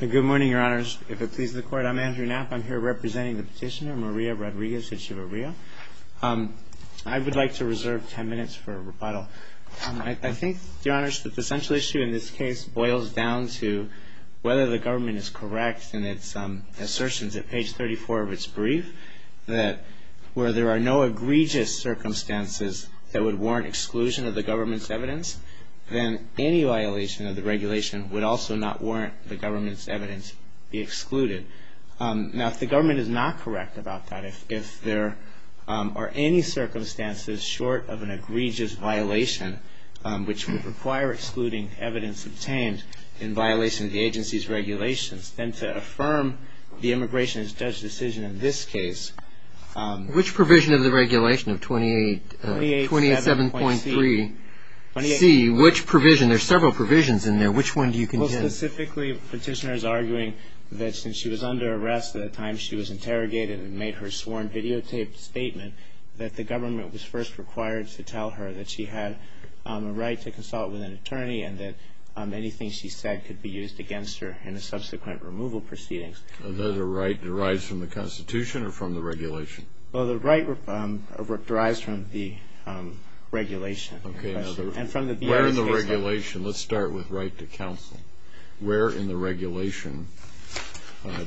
Good morning, Your Honors. If it pleases the Court, I'm Andrew Knapp. I'm here representing the petitioner, Maria Rodriguez-Echeverria. I would like to reserve 10 minutes for a rebuttal. I think, Your Honors, that the central issue in this case boils down to whether the government is correct in its assertions at page 34 of its brief that where there are no egregious circumstances that would warrant exclusion of the government's evidence, then any violation of the regulation would also not warrant the government's evidence be excluded. Now, if the government is not correct about that, if there are any circumstances short of an egregious violation, which would require excluding evidence obtained in violation of the agency's regulations, then to affirm the immigration judge's decision in this case. Which provision of the regulation of 287.3c, which provision? There are several provisions in there. Which one do you contend? Well, specifically, the petitioner is arguing that since she was under arrest at the time she was interrogated and made her sworn videotaped statement, that the government was first required to tell her that she had a right to consult with an attorney and that anything she said could be used against her in the subsequent removal proceedings. Is that a right that derives from the Constitution or from the regulation? Well, the right derives from the regulation. Okay. Where in the regulation? Let's start with right to counsel. Where in the regulation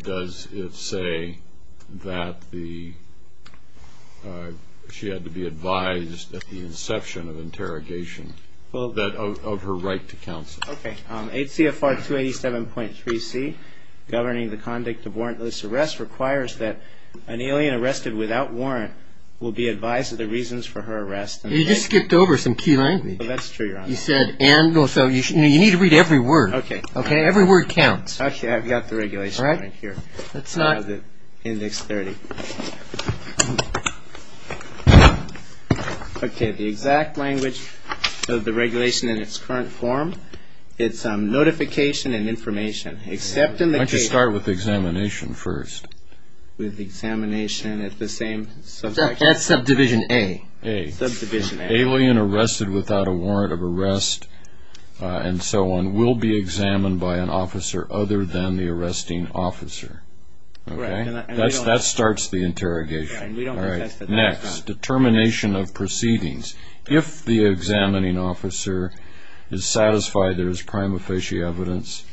does it say that she had to be advised at the inception of interrogation of her right to counsel? Okay. H.C.F.R. 287.3c, governing the conduct of warrantless arrest, requires that an alien arrested without warrant will be advised of the reasons for her arrest. You just skipped over some key language. That's true, Your Honor. You need to read every word. Okay. Every word counts. Okay. I've got the regulation right here. Let's not. Index 30. Okay. The exact language of the regulation in its current form, it's notification and information. Why don't you start with examination first? With examination at the same subject. That's subdivision A. A. Subdivision A. Alien arrested without a warrant of arrest and so on will be examined by an officer other than the arresting officer. That starts the interrogation. All right. Next. Determination of proceedings. If the examining officer is satisfied there is prima facie evidence,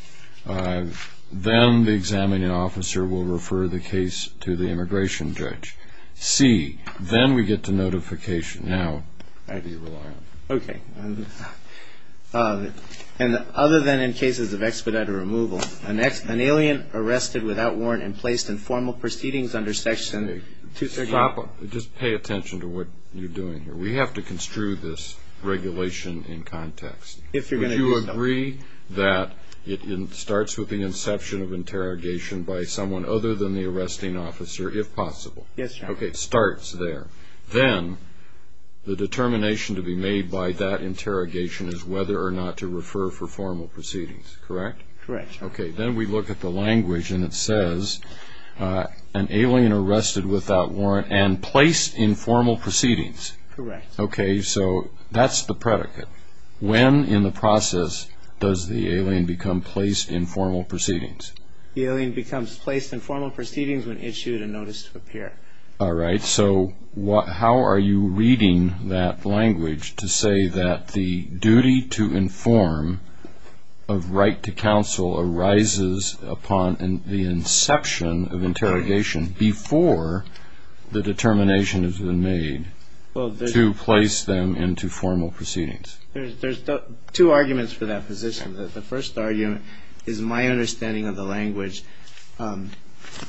then the examining officer will refer the case to the immigration judge. C. Then we get to notification. Now I'd be reliant. Okay. And other than in cases of expedited removal, an alien arrested without warrant and placed in formal proceedings under section 2. Stop. Just pay attention to what you're doing here. We have to construe this regulation in context. If you're going to do so. Would you agree that it starts with the inception of interrogation by someone other than the arresting officer, if possible? Yes, Your Honor. Okay. It starts there. Then the determination to be made by that interrogation is whether or not to refer for formal proceedings, correct? Correct. Okay. Then we look at the language and it says an alien arrested without warrant and placed in formal proceedings. Correct. Okay. So that's the predicate. When in the process does the alien become placed in formal proceedings? The alien becomes placed in formal proceedings when issued a notice to appear. All right. So how are you reading that language to say that the duty to inform of right to counsel arises upon the inception of interrogation before the determination has been made to place them into formal proceedings? There's two arguments for that position. The first argument is my understanding of the language. An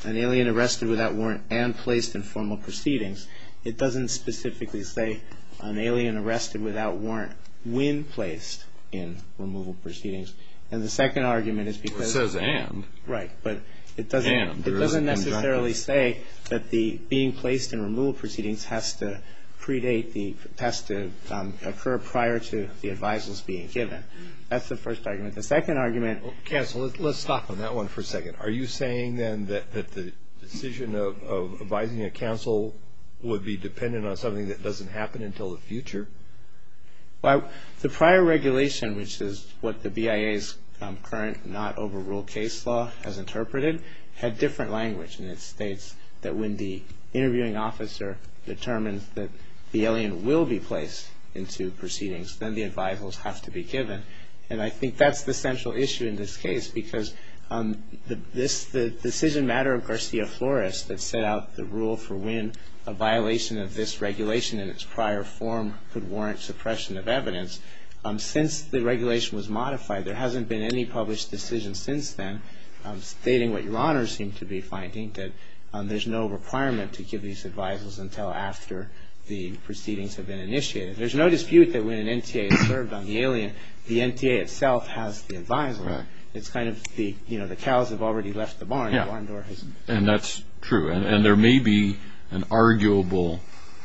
alien arrested without warrant and placed in formal proceedings. It doesn't specifically say an alien arrested without warrant when placed in removal proceedings. And the second argument is because it says and. Right. But it doesn't necessarily say that the being placed in removal proceedings has to predate, has to occur prior to the advisers being given. That's the first argument. Counsel, let's stop on that one for a second. Are you saying then that the decision of advising a counsel would be dependent on something that doesn't happen until the future? Well, the prior regulation, which is what the BIA's current not overruled case law has interpreted, had different language. And it states that when the interviewing officer determines that the alien will be placed into proceedings, then the advisers have to be given. And I think that's the central issue in this case, because the decision matter of Garcia Flores that set out the rule for when a violation of this regulation in its prior form could warrant suppression of evidence, since the regulation was modified, there hasn't been any published decision since then stating what Your Honor seemed to be finding, that there's no requirement to give these advisers until after the proceedings have been initiated. There's no dispute that when an NTA is served on the alien, the NTA itself has the adviser. It's kind of the cows have already left the barn. And that's true. And there may be an arguable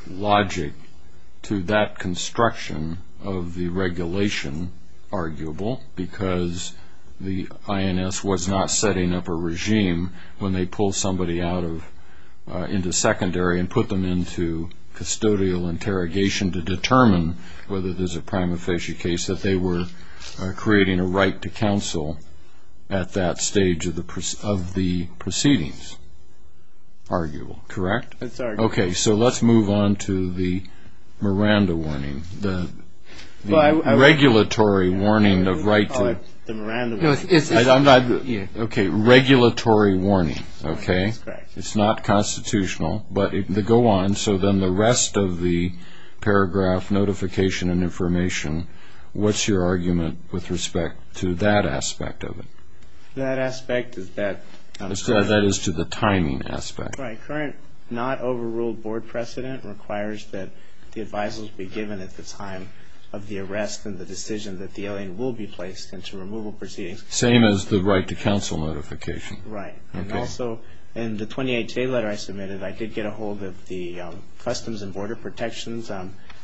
logic to that construction of the regulation, arguable because the INS was not setting up a regime when they pull somebody out into secondary and put them into custodial interrogation to determine whether there's a prima facie case that they were creating a right to counsel at that stage of the proceedings. Arguable, correct? It's arguable. Okay, so let's move on to the Miranda warning, the regulatory warning of right to. The Miranda warning. Okay, regulatory warning, okay? That's correct. It's not constitutional, but go on. So then the rest of the paragraph notification and information, what's your argument with respect to that aspect of it? That aspect is that. That is to the timing aspect. Right, current not overruled board precedent requires that the advisers be given at the time of the arrest and the decision that the alien will be placed into removal proceedings. Same as the right to counsel notification. Right. And also in the 28-J letter I submitted, I did get a hold of the customs and border protections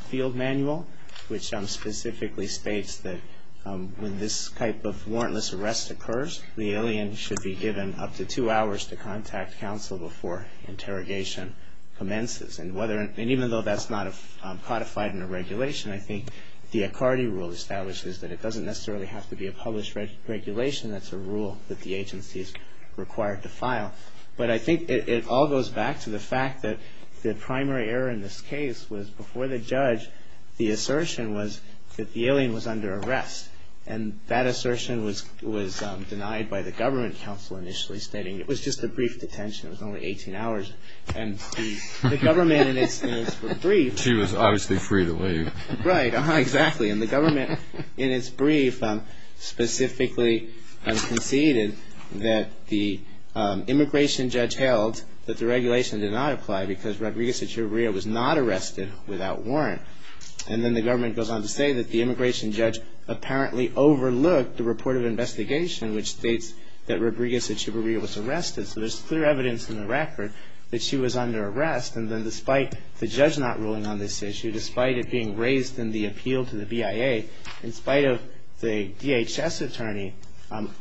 field manual, which specifically states that when this type of warrantless arrest occurs, the alien should be given up to two hours to contact counsel before interrogation commences. And even though that's not codified in the regulation, I think the Accardi rule establishes that it doesn't necessarily have to be a published regulation. That's a rule that the agency is required to file. But I think it all goes back to the fact that the primary error in this case was before the judge, the assertion was that the alien was under arrest. And that assertion was denied by the government counsel initially stating it was just a brief detention. It was only 18 hours. And the government in its brief. She was obviously free to leave. Right, exactly. And the government in its brief specifically conceded that the immigration judge held that the regulation did not apply because Rodriguez Echeverria was not arrested without warrant. And then the government goes on to say that the immigration judge apparently overlooked the report of investigation, which states that Rodriguez Echeverria was arrested. So there's clear evidence in the record that she was under arrest. And then despite the judge not ruling on this issue, despite it being raised in the appeal to the BIA, in spite of the DHS attorney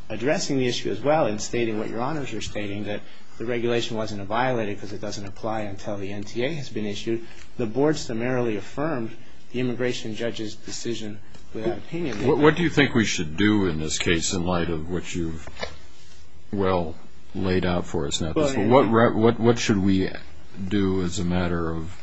addressing the issue as well and stating what your honors are stating, that the regulation wasn't violated because it doesn't apply until the NTA has been issued, the board summarily affirmed the immigration judge's decision without opinion. What do you think we should do in this case in light of what you've well laid out for us? What should we do as a matter of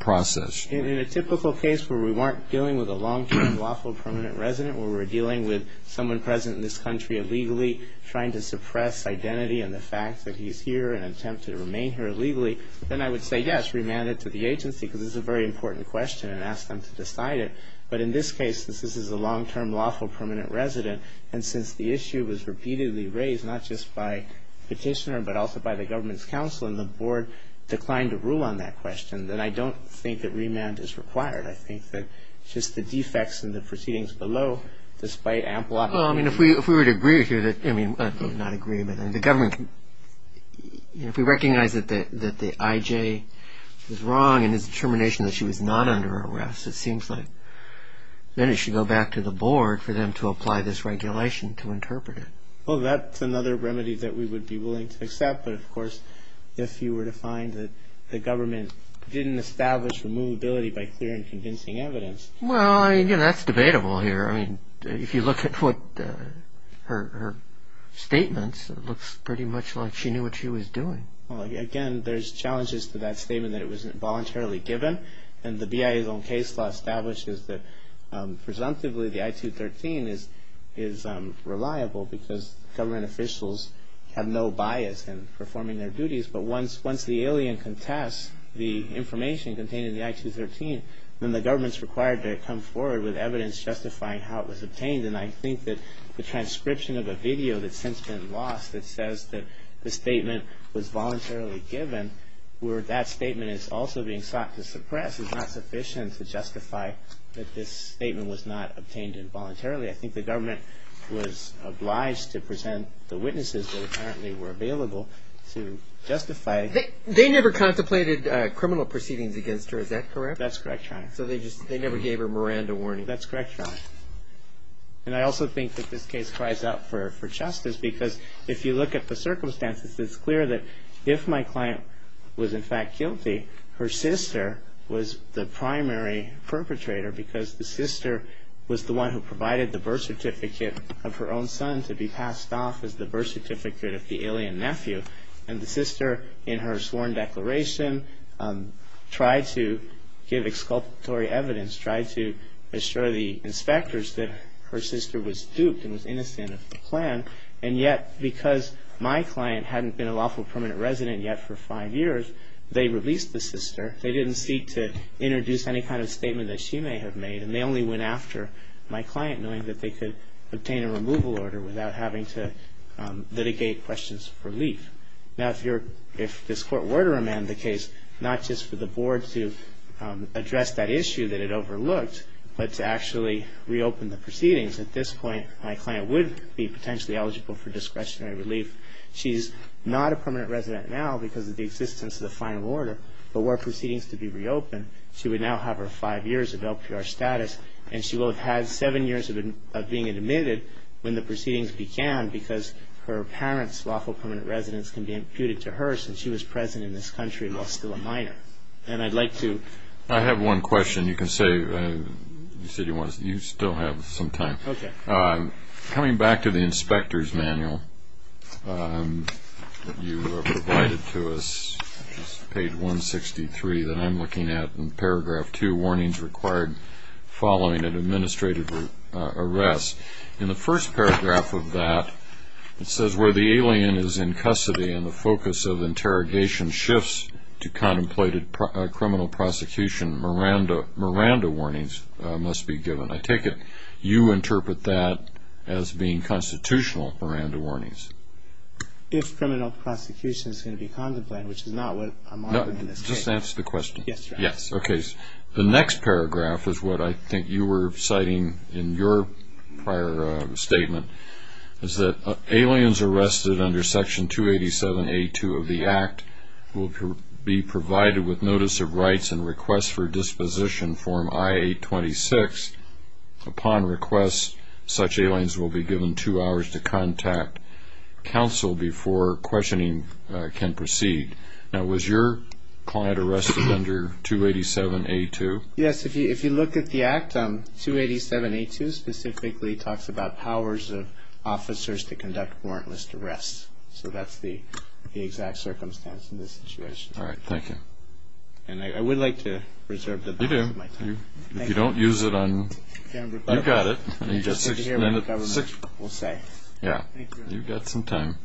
process? In a typical case where we weren't dealing with a long-term lawful permanent resident, where we're dealing with someone present in this country illegally trying to suppress identity and the fact that he's here in an attempt to remain here illegally, then I would say yes, remand it to the agency, because this is a very important question, and ask them to decide it. But in this case, since this is a long-term lawful permanent resident, and since the issue was repeatedly raised, not just by petitioner, but also by the government's counsel, and the board declined to rule on that question, then I don't think that remand is required. I think that just the defects in the proceedings below, despite ample opinion. Well, I mean, if we were to agree here that, I mean, not agree, but the government can, if we recognize that the I.J. was wrong in his determination that she was not under arrest, it seems like then it should go back to the board for them to apply this regulation to interpret it. Well, that's another remedy that we would be willing to accept, but of course, if you were to find that the government didn't establish removability by clear and convincing evidence. Well, I mean, that's debatable here. I mean, if you look at what her statements, it looks pretty much like she knew what she was doing. Well, again, there's challenges to that statement that it wasn't voluntarily given, and the BIA's own case law establishes that presumptively the I-213 is reliable because government officials have no bias in performing their duties, but once the alien contests the information contained in the I-213, then the government's required to come forward with evidence justifying how it was obtained, and I think that the transcription of a video that's since been lost that says that the statement was voluntarily given, where that statement is also being sought to suppress, is not sufficient to justify that this statement was not obtained involuntarily. I think the government was obliged to present the witnesses that apparently were available to justify. They never contemplated criminal proceedings against her, is that correct? That's correct, Your Honor. So they never gave her Miranda warning? That's correct, Your Honor. And I also think that this case cries out for justice because if you look at the circumstances, it's clear that if my client was in fact guilty, her sister was the primary perpetrator because the sister was the one who provided the birth certificate of her own son to be passed off as the birth certificate of the alien nephew, and the sister in her sworn declaration tried to give exculpatory evidence, tried to assure the inspectors that her sister was duped and was innocent of the plan, and yet because my client hadn't been a lawful permanent resident yet for five years, they released the sister. They didn't seek to introduce any kind of statement that she may have made, and they only went after my client knowing that they could obtain a removal order without having to litigate questions for relief. Now if this Court were to amend the case, not just for the board to address that issue that it overlooked, but to actually reopen the proceedings, at this point, my client would be potentially eligible for discretionary relief. She's not a permanent resident now because of the existence of the final order, but were proceedings to be reopened, she would now have her five years of LPR status, and she will have had seven years of being admitted when the proceedings began because her apparent lawful permanent residence can be imputed to her since she was present in this country while still a minor. And I'd like to... I have one question you can say. You said you still have some time. Okay. Coming back to the inspector's manual that you provided to us, page 163, that I'm looking at in paragraph 2, warnings required following an administrative arrest. In the first paragraph of that, it says, Where the alien is in custody and the focus of interrogation shifts to contemplated criminal prosecution, Miranda warnings must be given. I take it you interpret that as being constitutional, Miranda warnings. If criminal prosecution is going to be contemplated, which is not what I'm arguing in this case. Just answer the question. Yes, Your Honor. Okay. The next paragraph is what I think you were citing in your prior statement, is that aliens arrested under Section 287A2 of the Act will be provided with notice of rights and requests for disposition, Form I-826. Upon request, such aliens will be given two hours to contact counsel before questioning can proceed. Now, was your client arrested under 287A2? Yes. Yes, if you look at the Act, 287A2 specifically talks about powers of officers to conduct warrantless arrests. So that's the exact circumstance in this situation. All right. Thank you. And I would like to reserve the balance of my time. You do. Thank you. If you don't use it on... I've got it. We'll hear what the government will say. Yeah. Thank you. You've got some time.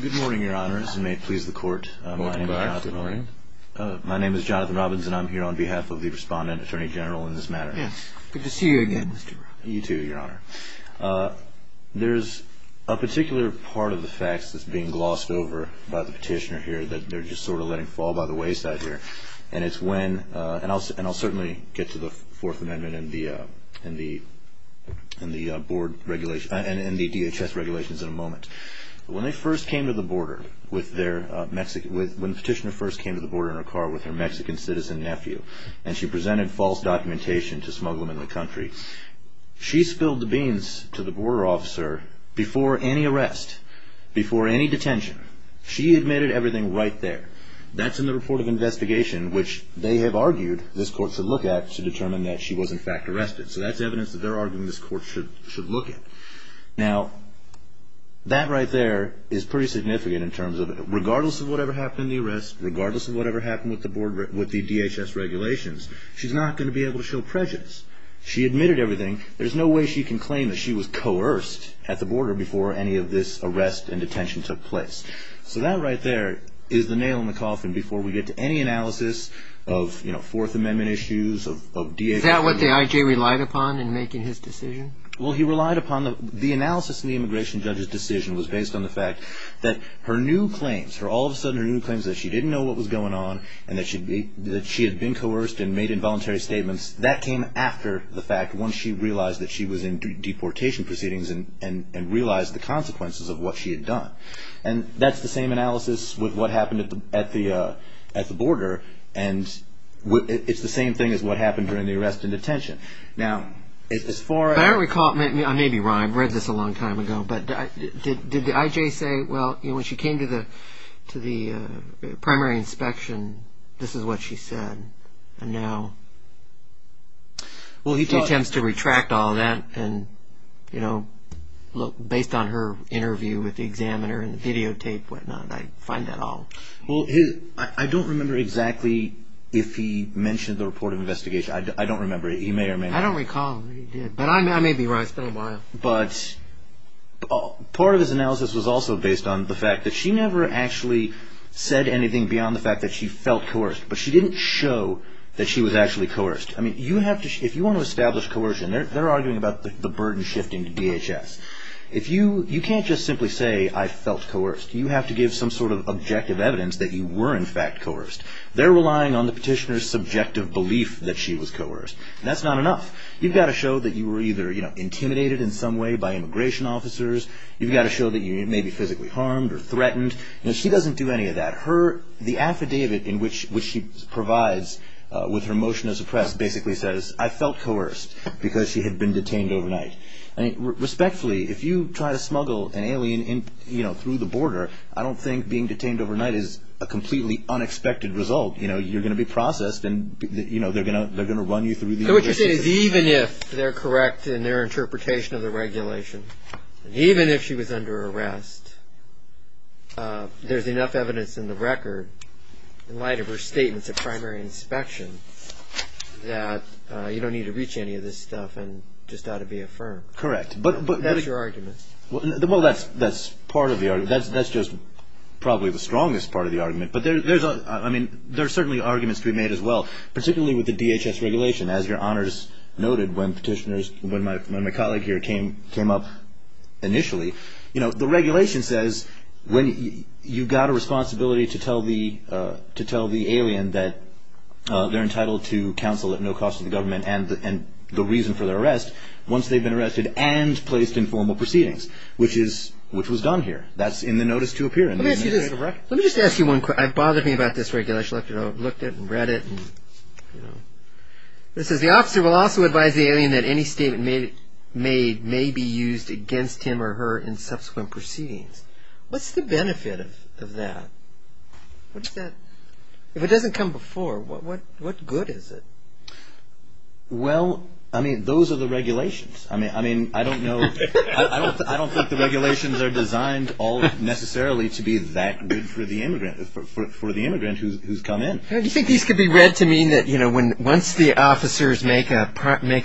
Good morning, Your Honors, and may it please the Court. Welcome back. Good morning. My name is Jonathan Robbins, and I'm here on behalf of the Respondent Attorney General in this matter. Yes. Good to see you again, Mr. Robbins. You too, Your Honor. There's a particular part of the facts that's being glossed over by the petitioner here that they're just sort of letting fall by the wayside here, and I'll certainly get to the Fourth Amendment and the DHS regulations in a moment. When the petitioner first came to the border in her car with her Mexican citizen nephew and she presented false documentation to smugglers in the country, she spilled the beans to the border officer before any arrest, before any detention. She admitted everything right there. That's in the report of investigation, which they have argued this Court should look at to determine that she was, in fact, arrested. So that's evidence that they're arguing this Court should look at. Now, that right there is pretty significant in terms of regardless of whatever happened in the arrest, regardless of whatever happened with the DHS regulations, she's not going to be able to show prejudice. She admitted everything. There's no way she can claim that she was coerced at the border before any of this arrest and detention took place. So that right there is the nail in the coffin before we get to any analysis of Fourth Amendment issues, of DHS. Is that what the I.J. relied upon in making his decision? Well, he relied upon the analysis in the immigration judge's decision was based on the fact that her new claims, all of a sudden her new claims that she didn't know what was going on and that she had been coerced and made involuntary statements, that came after the fact once she realized that she was in deportation proceedings and realized the consequences of what she had done. And that's the same analysis with what happened at the border, and it's the same thing as what happened during the arrest and detention. Now, as far as... If I recall, maybe I'm right, I read this a long time ago, but did the I.J. say, well, when she came to the primary inspection, this is what she said, and now... Well, he attempts to retract all that, and based on her interview with the examiner and the videotape and whatnot, I find that all... Well, I don't remember exactly if he mentioned the report of investigation. I don't remember. He may or may not. I don't recall that he did, but I may be right. But part of his analysis was also based on the fact that she never actually said anything beyond the fact that she felt coerced, but she didn't show that she was actually coerced. I mean, if you want to establish coercion, they're arguing about the burden shifting to DHS. You can't just simply say, I felt coerced. You have to give some sort of objective evidence that you were, in fact, coerced. They're relying on the petitioner's subjective belief that she was coerced, and that's not enough. You've got to show that you were either intimidated in some way by immigration officers. You've got to show that you may be physically harmed or threatened. She doesn't do any of that. The affidavit in which she provides with her motion as oppressed basically says, I felt coerced because she had been detained overnight. Respectfully, if you try to smuggle an alien through the border, I don't think being detained overnight is a completely unexpected result. You're going to be processed, and they're going to run you through the immigration system. So what you're saying is even if they're correct in their interpretation of the regulation, even if she was under arrest, there's enough evidence in the record, in light of her statements of primary inspection, that you don't need to reach any of this stuff and just ought to be affirmed. Correct. That's your argument. Well, that's part of the argument. That's just probably the strongest part of the argument. But there's certainly arguments to be made as well, particularly with the DHS regulation. As your honors noted, when my colleague here came up initially, the regulation says you've got a responsibility to tell the alien that they're entitled to counsel at no cost to the government and the reason for their arrest once they've been arrested and placed in formal proceedings, which was done here. That's in the notice to appear in the immigration record. Let me just ask you one question. It bothered me about this regulation. I've looked at it and read it. It says the officer will also advise the alien that any statement made may be used against him or her in subsequent proceedings. What's the benefit of that? If it doesn't come before, what good is it? Well, I mean, those are the regulations. I don't think the regulations are designed necessarily to be that good for the immigrant who's come in. Do you think these could be read to mean that once the officers make a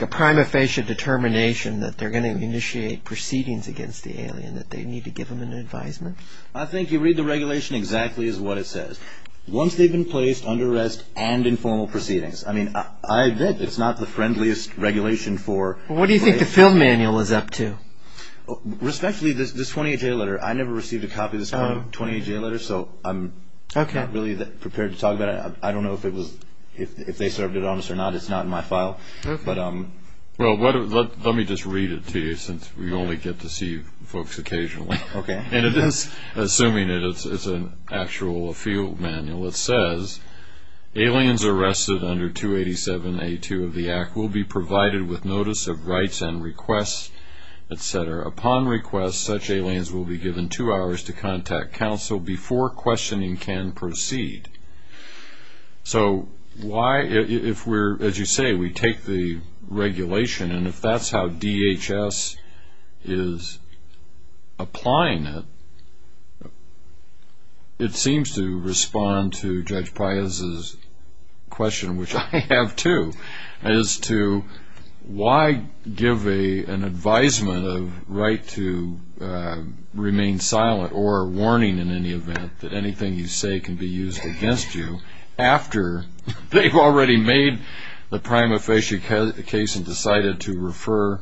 prima facie determination that they're going to initiate proceedings against the alien that they need to give them an advisement? I think you read the regulation exactly as what it says. Once they've been placed under arrest and in formal proceedings. It's not the friendliest regulation. What do you think the field manual is up to? Respectfully, this 28-day letter, I never received a copy of this 28-day letter, so I'm not really prepared to talk about it. I don't know if they served it on us or not. It's not in my file. Well, let me just read it to you since we only get to see folks occasionally. Assuming it's an actual field manual, it says, Aliens arrested under 287A2 of the Act will be provided with notice of rights and requests, etc. Upon request, such aliens will be given two hours to contact counsel before questioning can proceed. So why, if we're, as you say, we take the regulation, and if that's how DHS is applying it, it seems to respond to Judge Prias' question, which I have too, as to why give an advisement of right to remain silent or warning in any event that anything you say can be used against you after they've already made the prima facie case and decided to refer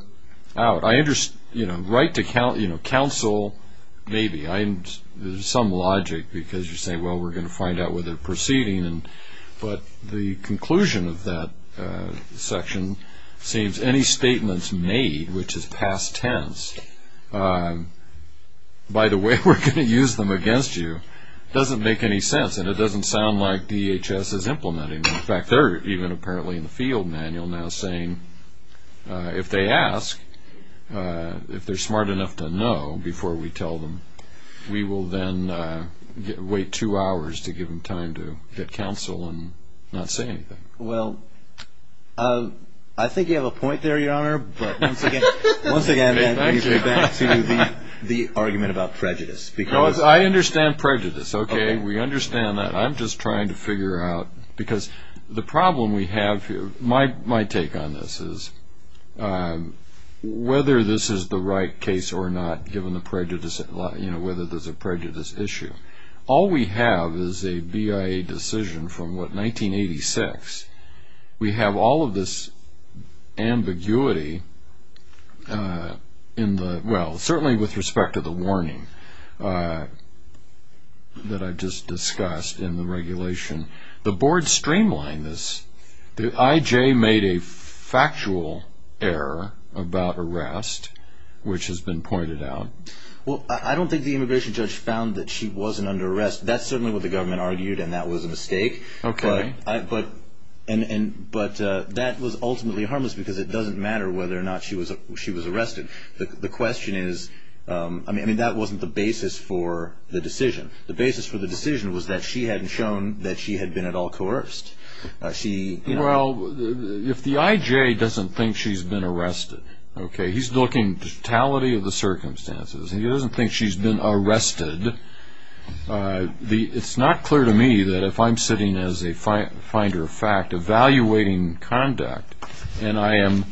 out. Right to counsel, maybe. There's some logic because you say, well, we're going to find out whether they're proceeding. But the conclusion of that section seems any statements made, which is past tense, by the way we're going to use them against you, doesn't make any sense, and it doesn't sound like DHS is implementing them. In fact, they're even apparently in the field manual now saying if they ask, if they're smart enough to know before we tell them, we will then wait two hours to give them time to get counsel and not say anything. Well, I think you have a point there, Your Honor, but once again, let me get back to the argument about prejudice. I understand prejudice, okay. We understand that. I'm just trying to figure out, because the problem we have, my take on this is, whether this is the right case or not, given the prejudice, you know, whether there's a prejudice issue. All we have is a BIA decision from, what, 1986. We have all of this ambiguity in the, well, certainly with respect to the warning that I just discussed in the regulation. The board streamlined this. The IJ made a factual error about arrest, which has been pointed out. Well, I don't think the immigration judge found that she wasn't under arrest. That's certainly what the government argued, and that was a mistake. Okay. But that was ultimately harmless because it doesn't matter whether or not she was arrested. The question is, I mean, that wasn't the basis for the decision. The basis for the decision was that she hadn't shown that she had been at all coerced. Well, if the IJ doesn't think she's been arrested, okay, he's looking at the totality of the circumstances. He doesn't think she's been arrested. It's not clear to me that if I'm sitting as a finder of fact, evaluating conduct, and I am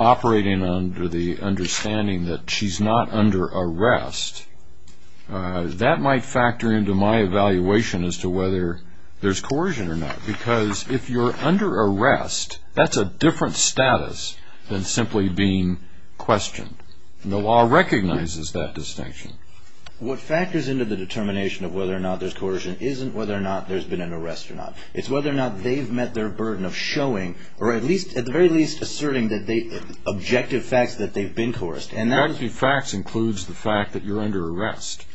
operating under the understanding that she's not under arrest, that might factor into my evaluation as to whether there's coercion or not. Because if you're under arrest, that's a different status than simply being questioned. The law recognizes that distinction. What factors into the determination of whether or not there's coercion isn't whether or not there's been an arrest or not. It's whether or not they've met their burden of showing, or at the very least asserting objective facts that they've been coerced. Objective facts includes the fact that you're under arrest.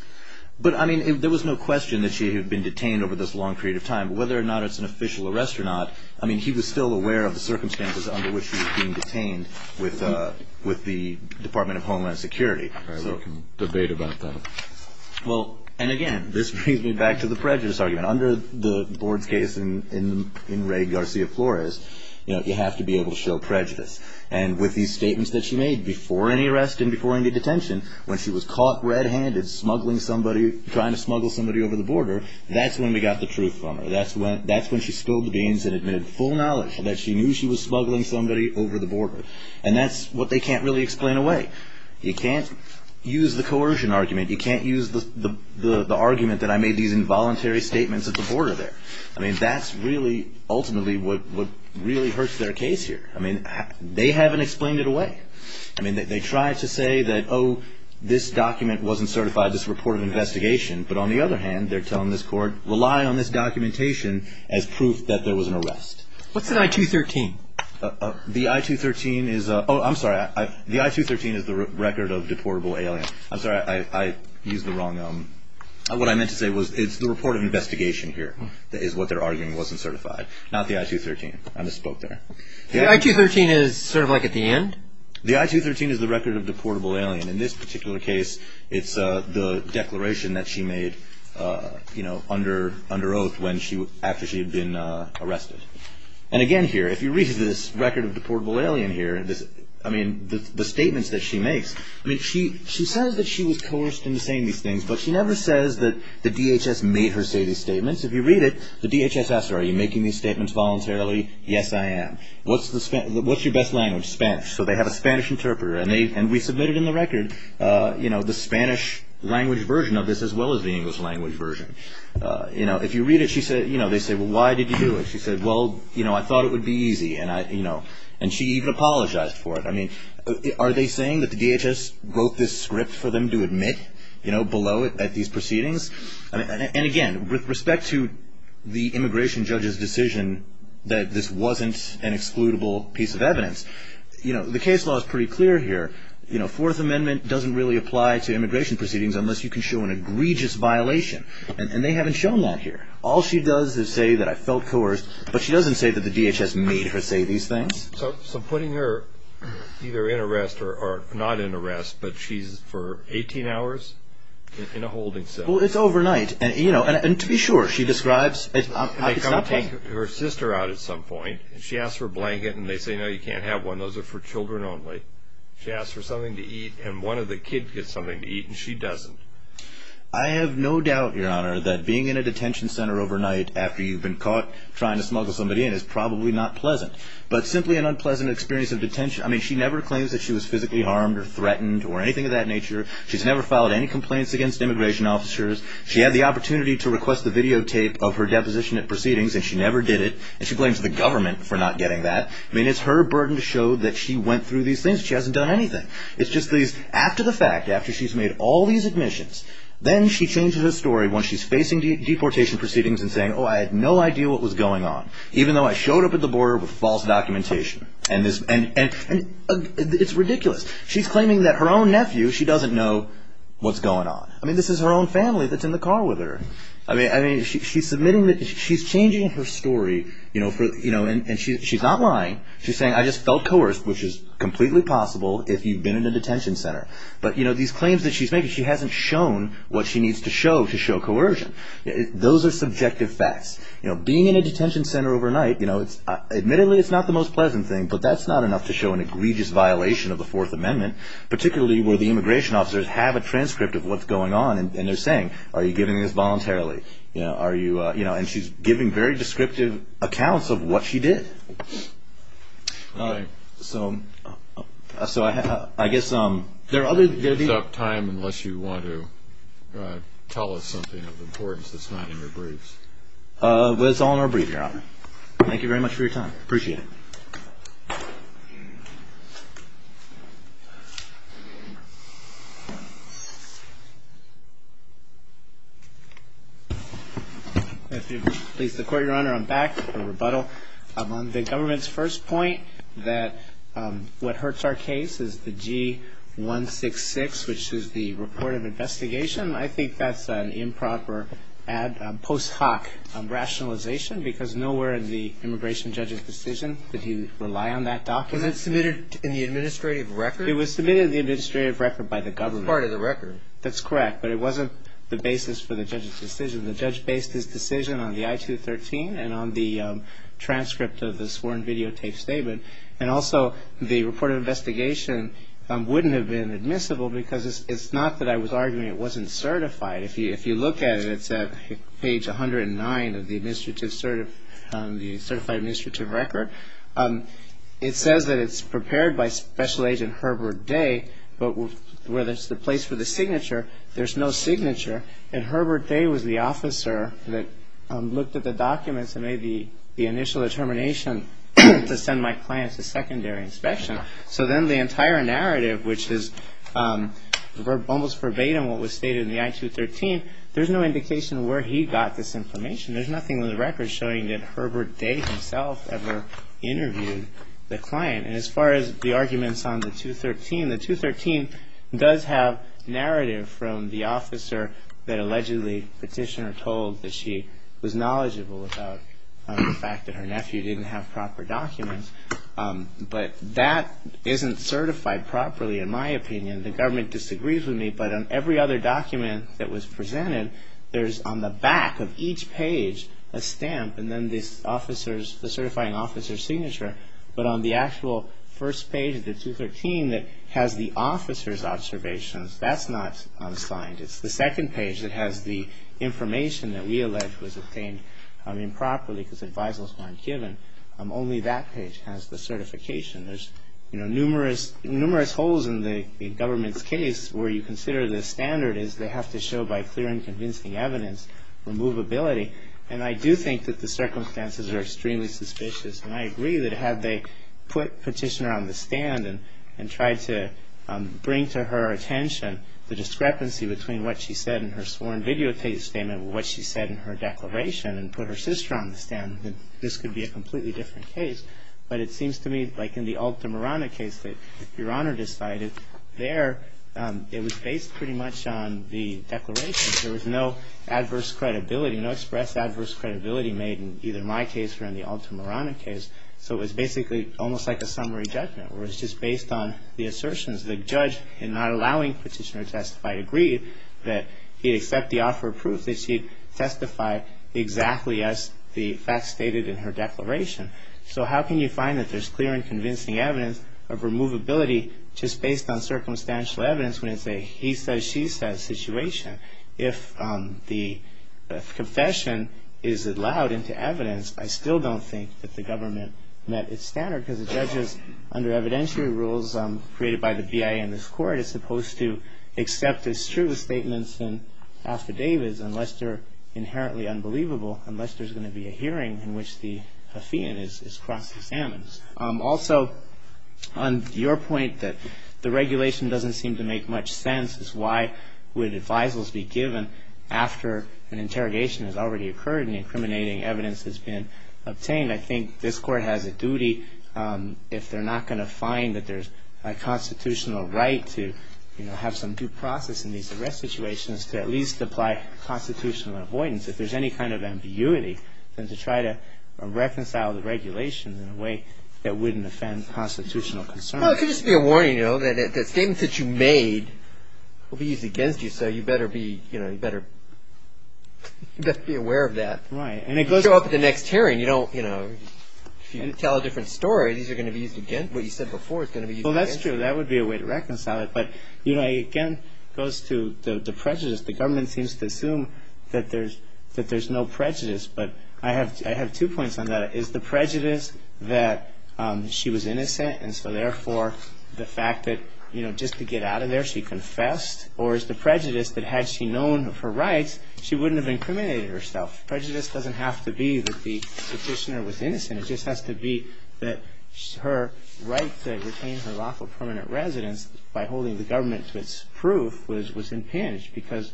But, I mean, there was no question that she had been detained over this long period of time. Whether or not it's an official arrest or not, I mean, he was still aware of the circumstances under which she was being detained with the Department of Homeland Security. All right. We can debate about that. Well, and again, this brings me back to the prejudice argument. Under the board's case in Ray Garcia Flores, you have to be able to show prejudice. And with these statements that she made before any arrest and before any detention, when she was caught red-handed smuggling somebody, trying to smuggle somebody over the border, that's when we got the truth from her. That's when she spilled the beans and admitted full knowledge that she knew she was smuggling somebody over the border. And that's what they can't really explain away. You can't use the coercion argument. You can't use the argument that I made these involuntary statements at the border there. I mean, that's really ultimately what really hurts their case here. I mean, they haven't explained it away. I mean, they try to say that, oh, this document wasn't certified. This is a report of investigation. But on the other hand, they're telling this court, rely on this documentation as proof that there was an arrest. What's an I-213? The I-213 is a – oh, I'm sorry. The I-213 is the record of deportable aliens. I'm sorry. I used the wrong – what I meant to say was it's the report of investigation here is what they're arguing wasn't certified, not the I-213. I misspoke there. The I-213 is sort of like at the end? The I-213 is the record of deportable alien. In this particular case, it's the declaration that she made under oath after she had been arrested. And again here, if you read this record of deportable alien here, I mean, the statements that she makes, I mean, she says that she was coerced into saying these things, but she never says that the DHS made her say these statements. If you read it, the DHS asks her, are you making these statements voluntarily? Yes, I am. What's the – what's your best language? Spanish. So they have a Spanish interpreter, and they – and we submitted in the record, you know, the Spanish language version of this as well as the English language version. You know, if you read it, she said – you know, they say, well, why did you do it? She said, well, you know, I thought it would be easy, and I – you know, and she even apologized for it. I mean, are they saying that the DHS wrote this script for them to admit, you know, below at these proceedings? And again, with respect to the immigration judge's decision that this wasn't an excludable piece of evidence, you know, the case law is pretty clear here. You know, Fourth Amendment doesn't really apply to immigration proceedings unless you can show an egregious violation, and they haven't shown that here. All she does is say that I felt coerced, but she doesn't say that the DHS made her say these things. So putting her either in arrest or not in arrest, but she's for 18 hours in a holding cell. Well, it's overnight, and, you know – and to be sure, she describes – They come and take her sister out at some point, and she asks for a blanket, and they say, no, you can't have one. Those are for children only. She asks for something to eat, and one of the kids gets something to eat, and she doesn't. I have no doubt, Your Honor, that being in a detention center overnight after you've been caught trying to smuggle somebody in is probably not pleasant, but simply an unpleasant experience of detention – I mean, she never claims that she was physically harmed or threatened or anything of that nature. She's never filed any complaints against immigration officers. She had the opportunity to request the videotape of her deposition at proceedings, and she never did it, and she blames the government for not getting that. I mean, it's her burden to show that she went through these things. She hasn't done anything. It's just these – after the fact, after she's made all these admissions, then she changes her story once she's facing deportation proceedings and saying, oh, I had no idea what was going on, even though I showed up at the border with false documentation. And it's ridiculous. She's claiming that her own nephew, she doesn't know what's going on. I mean, this is her own family that's in the car with her. I mean, she's changing her story, and she's not lying. She's saying, I just felt coerced, which is completely possible if you've been in a detention center. But these claims that she's making, she hasn't shown what she needs to show to show coercion. Those are subjective facts. Being in a detention center overnight, admittedly it's not the most pleasant thing, but that's not enough to show an egregious violation of the Fourth Amendment, particularly where the immigration officers have a transcript of what's going on, and they're saying, are you giving this voluntarily? And she's giving very descriptive accounts of what she did. So I guess there are other things. There's no time unless you want to tell us something of importance that's not in your briefs. Well, it's all in our brief, Your Honor. Thank you very much for your time. Appreciate it. If you'll please, the Court, Your Honor, I'm back for rebuttal. On the government's first point that what hurts our case is the G-166, which is the report of investigation. I think that's an improper post hoc rationalization because nowhere in the immigration judge's decision did he rely on that document. It was submitted in the administrative record. It was submitted in the administrative record by the government. It's part of the record. That's correct, but it wasn't the basis for the judge's decision. The judge based his decision on the I-213 and on the transcript of the sworn videotape statement, and also the report of investigation wouldn't have been admissible because it's not that I was arguing it wasn't certified. If you look at it, it's at page 109 of the certified administrative record. It says that it's prepared by Special Agent Herbert Day, but where there's the place for the signature, there's no signature, and Herbert Day was the officer that looked at the documents and made the initial determination to send my client to secondary inspection. So then the entire narrative, which is almost verbatim what was stated in the I-213, there's no indication where he got this information. There's nothing in the record showing that Herbert Day himself ever interviewed the client. And as far as the arguments on the 213, the 213 does have narrative from the officer that allegedly petitioner told that she was knowledgeable about the fact that her nephew didn't have proper documents, but that isn't certified properly, in my opinion. The government disagrees with me, but on every other document that was presented, there's on the back of each page a stamp and then the certifying officer's signature, but on the actual first page of the 213 that has the officer's observations, that's not signed. It's the second page that has the information that we allege was obtained improperly because advisals weren't given. Only that page has the certification. There's numerous holes in the government's case where you consider the standard is they have to show by clear and convincing evidence removability. And I do think that the circumstances are extremely suspicious, and I agree that had they put petitioner on the stand and tried to bring to her attention the discrepancy between what she said in her sworn videotape statement and what she said in her declaration and put her sister on the stand, this could be a completely different case. But it seems to me like in the Alta Morana case that Your Honor decided, there it was based pretty much on the declaration. There was no adverse credibility, no express adverse credibility made in either my case or in the Alta Morana case, so it was basically almost like a summary judgment where it was just based on the assertions. The judge, in not allowing petitioner to testify, agreed that he'd accept the offer of proof that she'd testify exactly as the facts stated in her declaration. So how can you find that there's clear and convincing evidence of removability just based on circumstantial evidence when it's a he says, she says situation? If the confession is allowed into evidence, I still don't think that the government met its standard because the judges, under evidentiary rules created by the BIA and this court, is supposed to accept as true statements and affidavits unless they're inherently unbelievable, unless there's going to be a hearing in which the affian is cross-examined. Also, on your point that the regulation doesn't seem to make much sense, is why would advisals be given after an interrogation has already occurred and incriminating evidence has been obtained? I think this court has a duty, if they're not going to find that there's a constitutional right to have some due process in these arrest situations, to at least apply constitutional avoidance if there's any kind of ambiguity and to try to reconcile the regulations in a way that wouldn't offend constitutional concern. Well, it could just be a warning, you know, that statements that you made will be used against you so you better be, you know, you better be aware of that. Right. And it goes up at the next hearing. You know, if you tell a different story, these are going to be used against you. What you said before is going to be used against you. Well, that's true. That would be a way to reconcile it. But, you know, it again goes to the prejudice. The government seems to assume that there's no prejudice. But I have two points on that. Is the prejudice that she was innocent and so, therefore, the fact that, you know, just to get out of there, she confessed? Or is the prejudice that had she known of her rights, she wouldn't have incriminated herself? Prejudice doesn't have to be that the petitioner was innocent. It just has to be that her right to retain her lawful permanent residence by holding the government to its proof was impinged because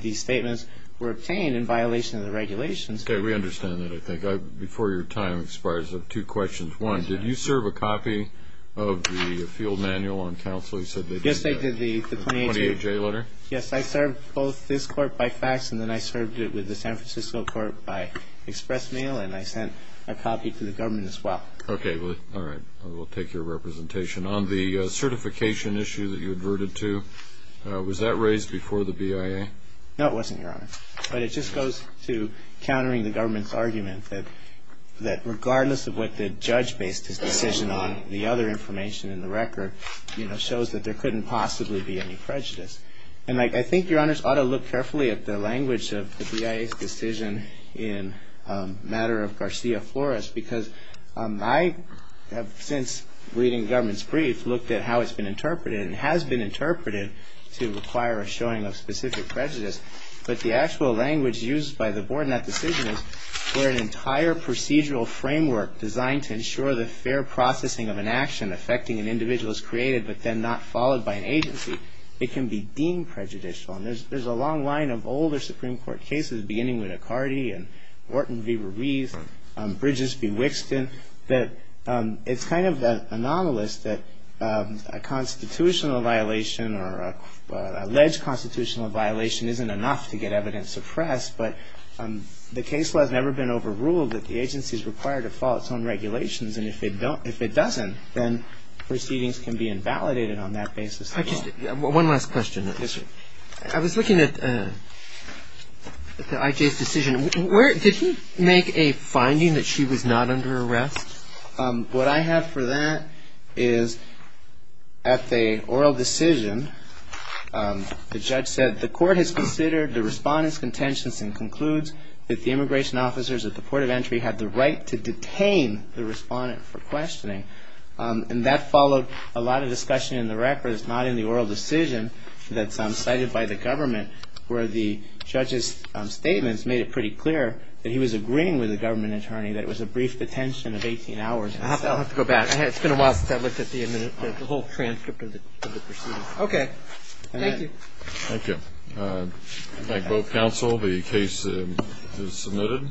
these statements were obtained in violation of the regulations. Okay. We understand that, I think. Before your time expires, I have two questions. One, did you serve a copy of the field manual on counsel? You said they did that. Yes, I did the 28-J letter. Yes, I served both this court by fax and then I served it with the San Francisco court by express mail. And I sent a copy to the government as well. Okay. All right. We'll take your representation. On the certification issue that you adverted to, was that raised before the BIA? No, it wasn't, Your Honor. But it just goes to countering the government's argument that regardless of what the judge based his decision on, the other information in the record, you know, shows that there couldn't possibly be any prejudice. And I think, Your Honors, ought to look carefully at the language of the BIA's decision in a matter of Garcia-Flores, because I have since, reading the government's brief, looked at how it's been interpreted and has been interpreted to require a showing of specific prejudice. But the actual language used by the board in that decision is for an entire procedural framework designed to ensure the fair processing of an action affecting an individual is created but then not followed by an agency. It can be deemed prejudicial. And there's a long line of older Supreme Court cases, beginning with Accardi and Wharton v. Ruiz and Bridges v. Wixton, that it's kind of anomalous that a constitutional violation or an alleged constitutional violation isn't enough to get evidence suppressed. But the case law has never been overruled that the agency is required to follow its own regulations. And if it doesn't, then proceedings can be invalidated on that basis. One last question. Yes, sir. I was looking at I.J.'s decision. Did he make a finding that she was not under arrest? What I have for that is at the oral decision, the judge said, the court has considered the respondent's contentions and concludes that the immigration officers at the port of entry had the right to detain the respondent for questioning. And that followed a lot of discussion in the records, not in the oral decision that's cited by the government, where the judge's statements made it pretty clear that he was agreeing with the government attorney that it was a brief detention of 18 hours. I'll have to go back. It's been a while since I looked at the whole transcript of the proceedings. Okay. Thank you. Thank you. Thank both counsel. The case is submitted.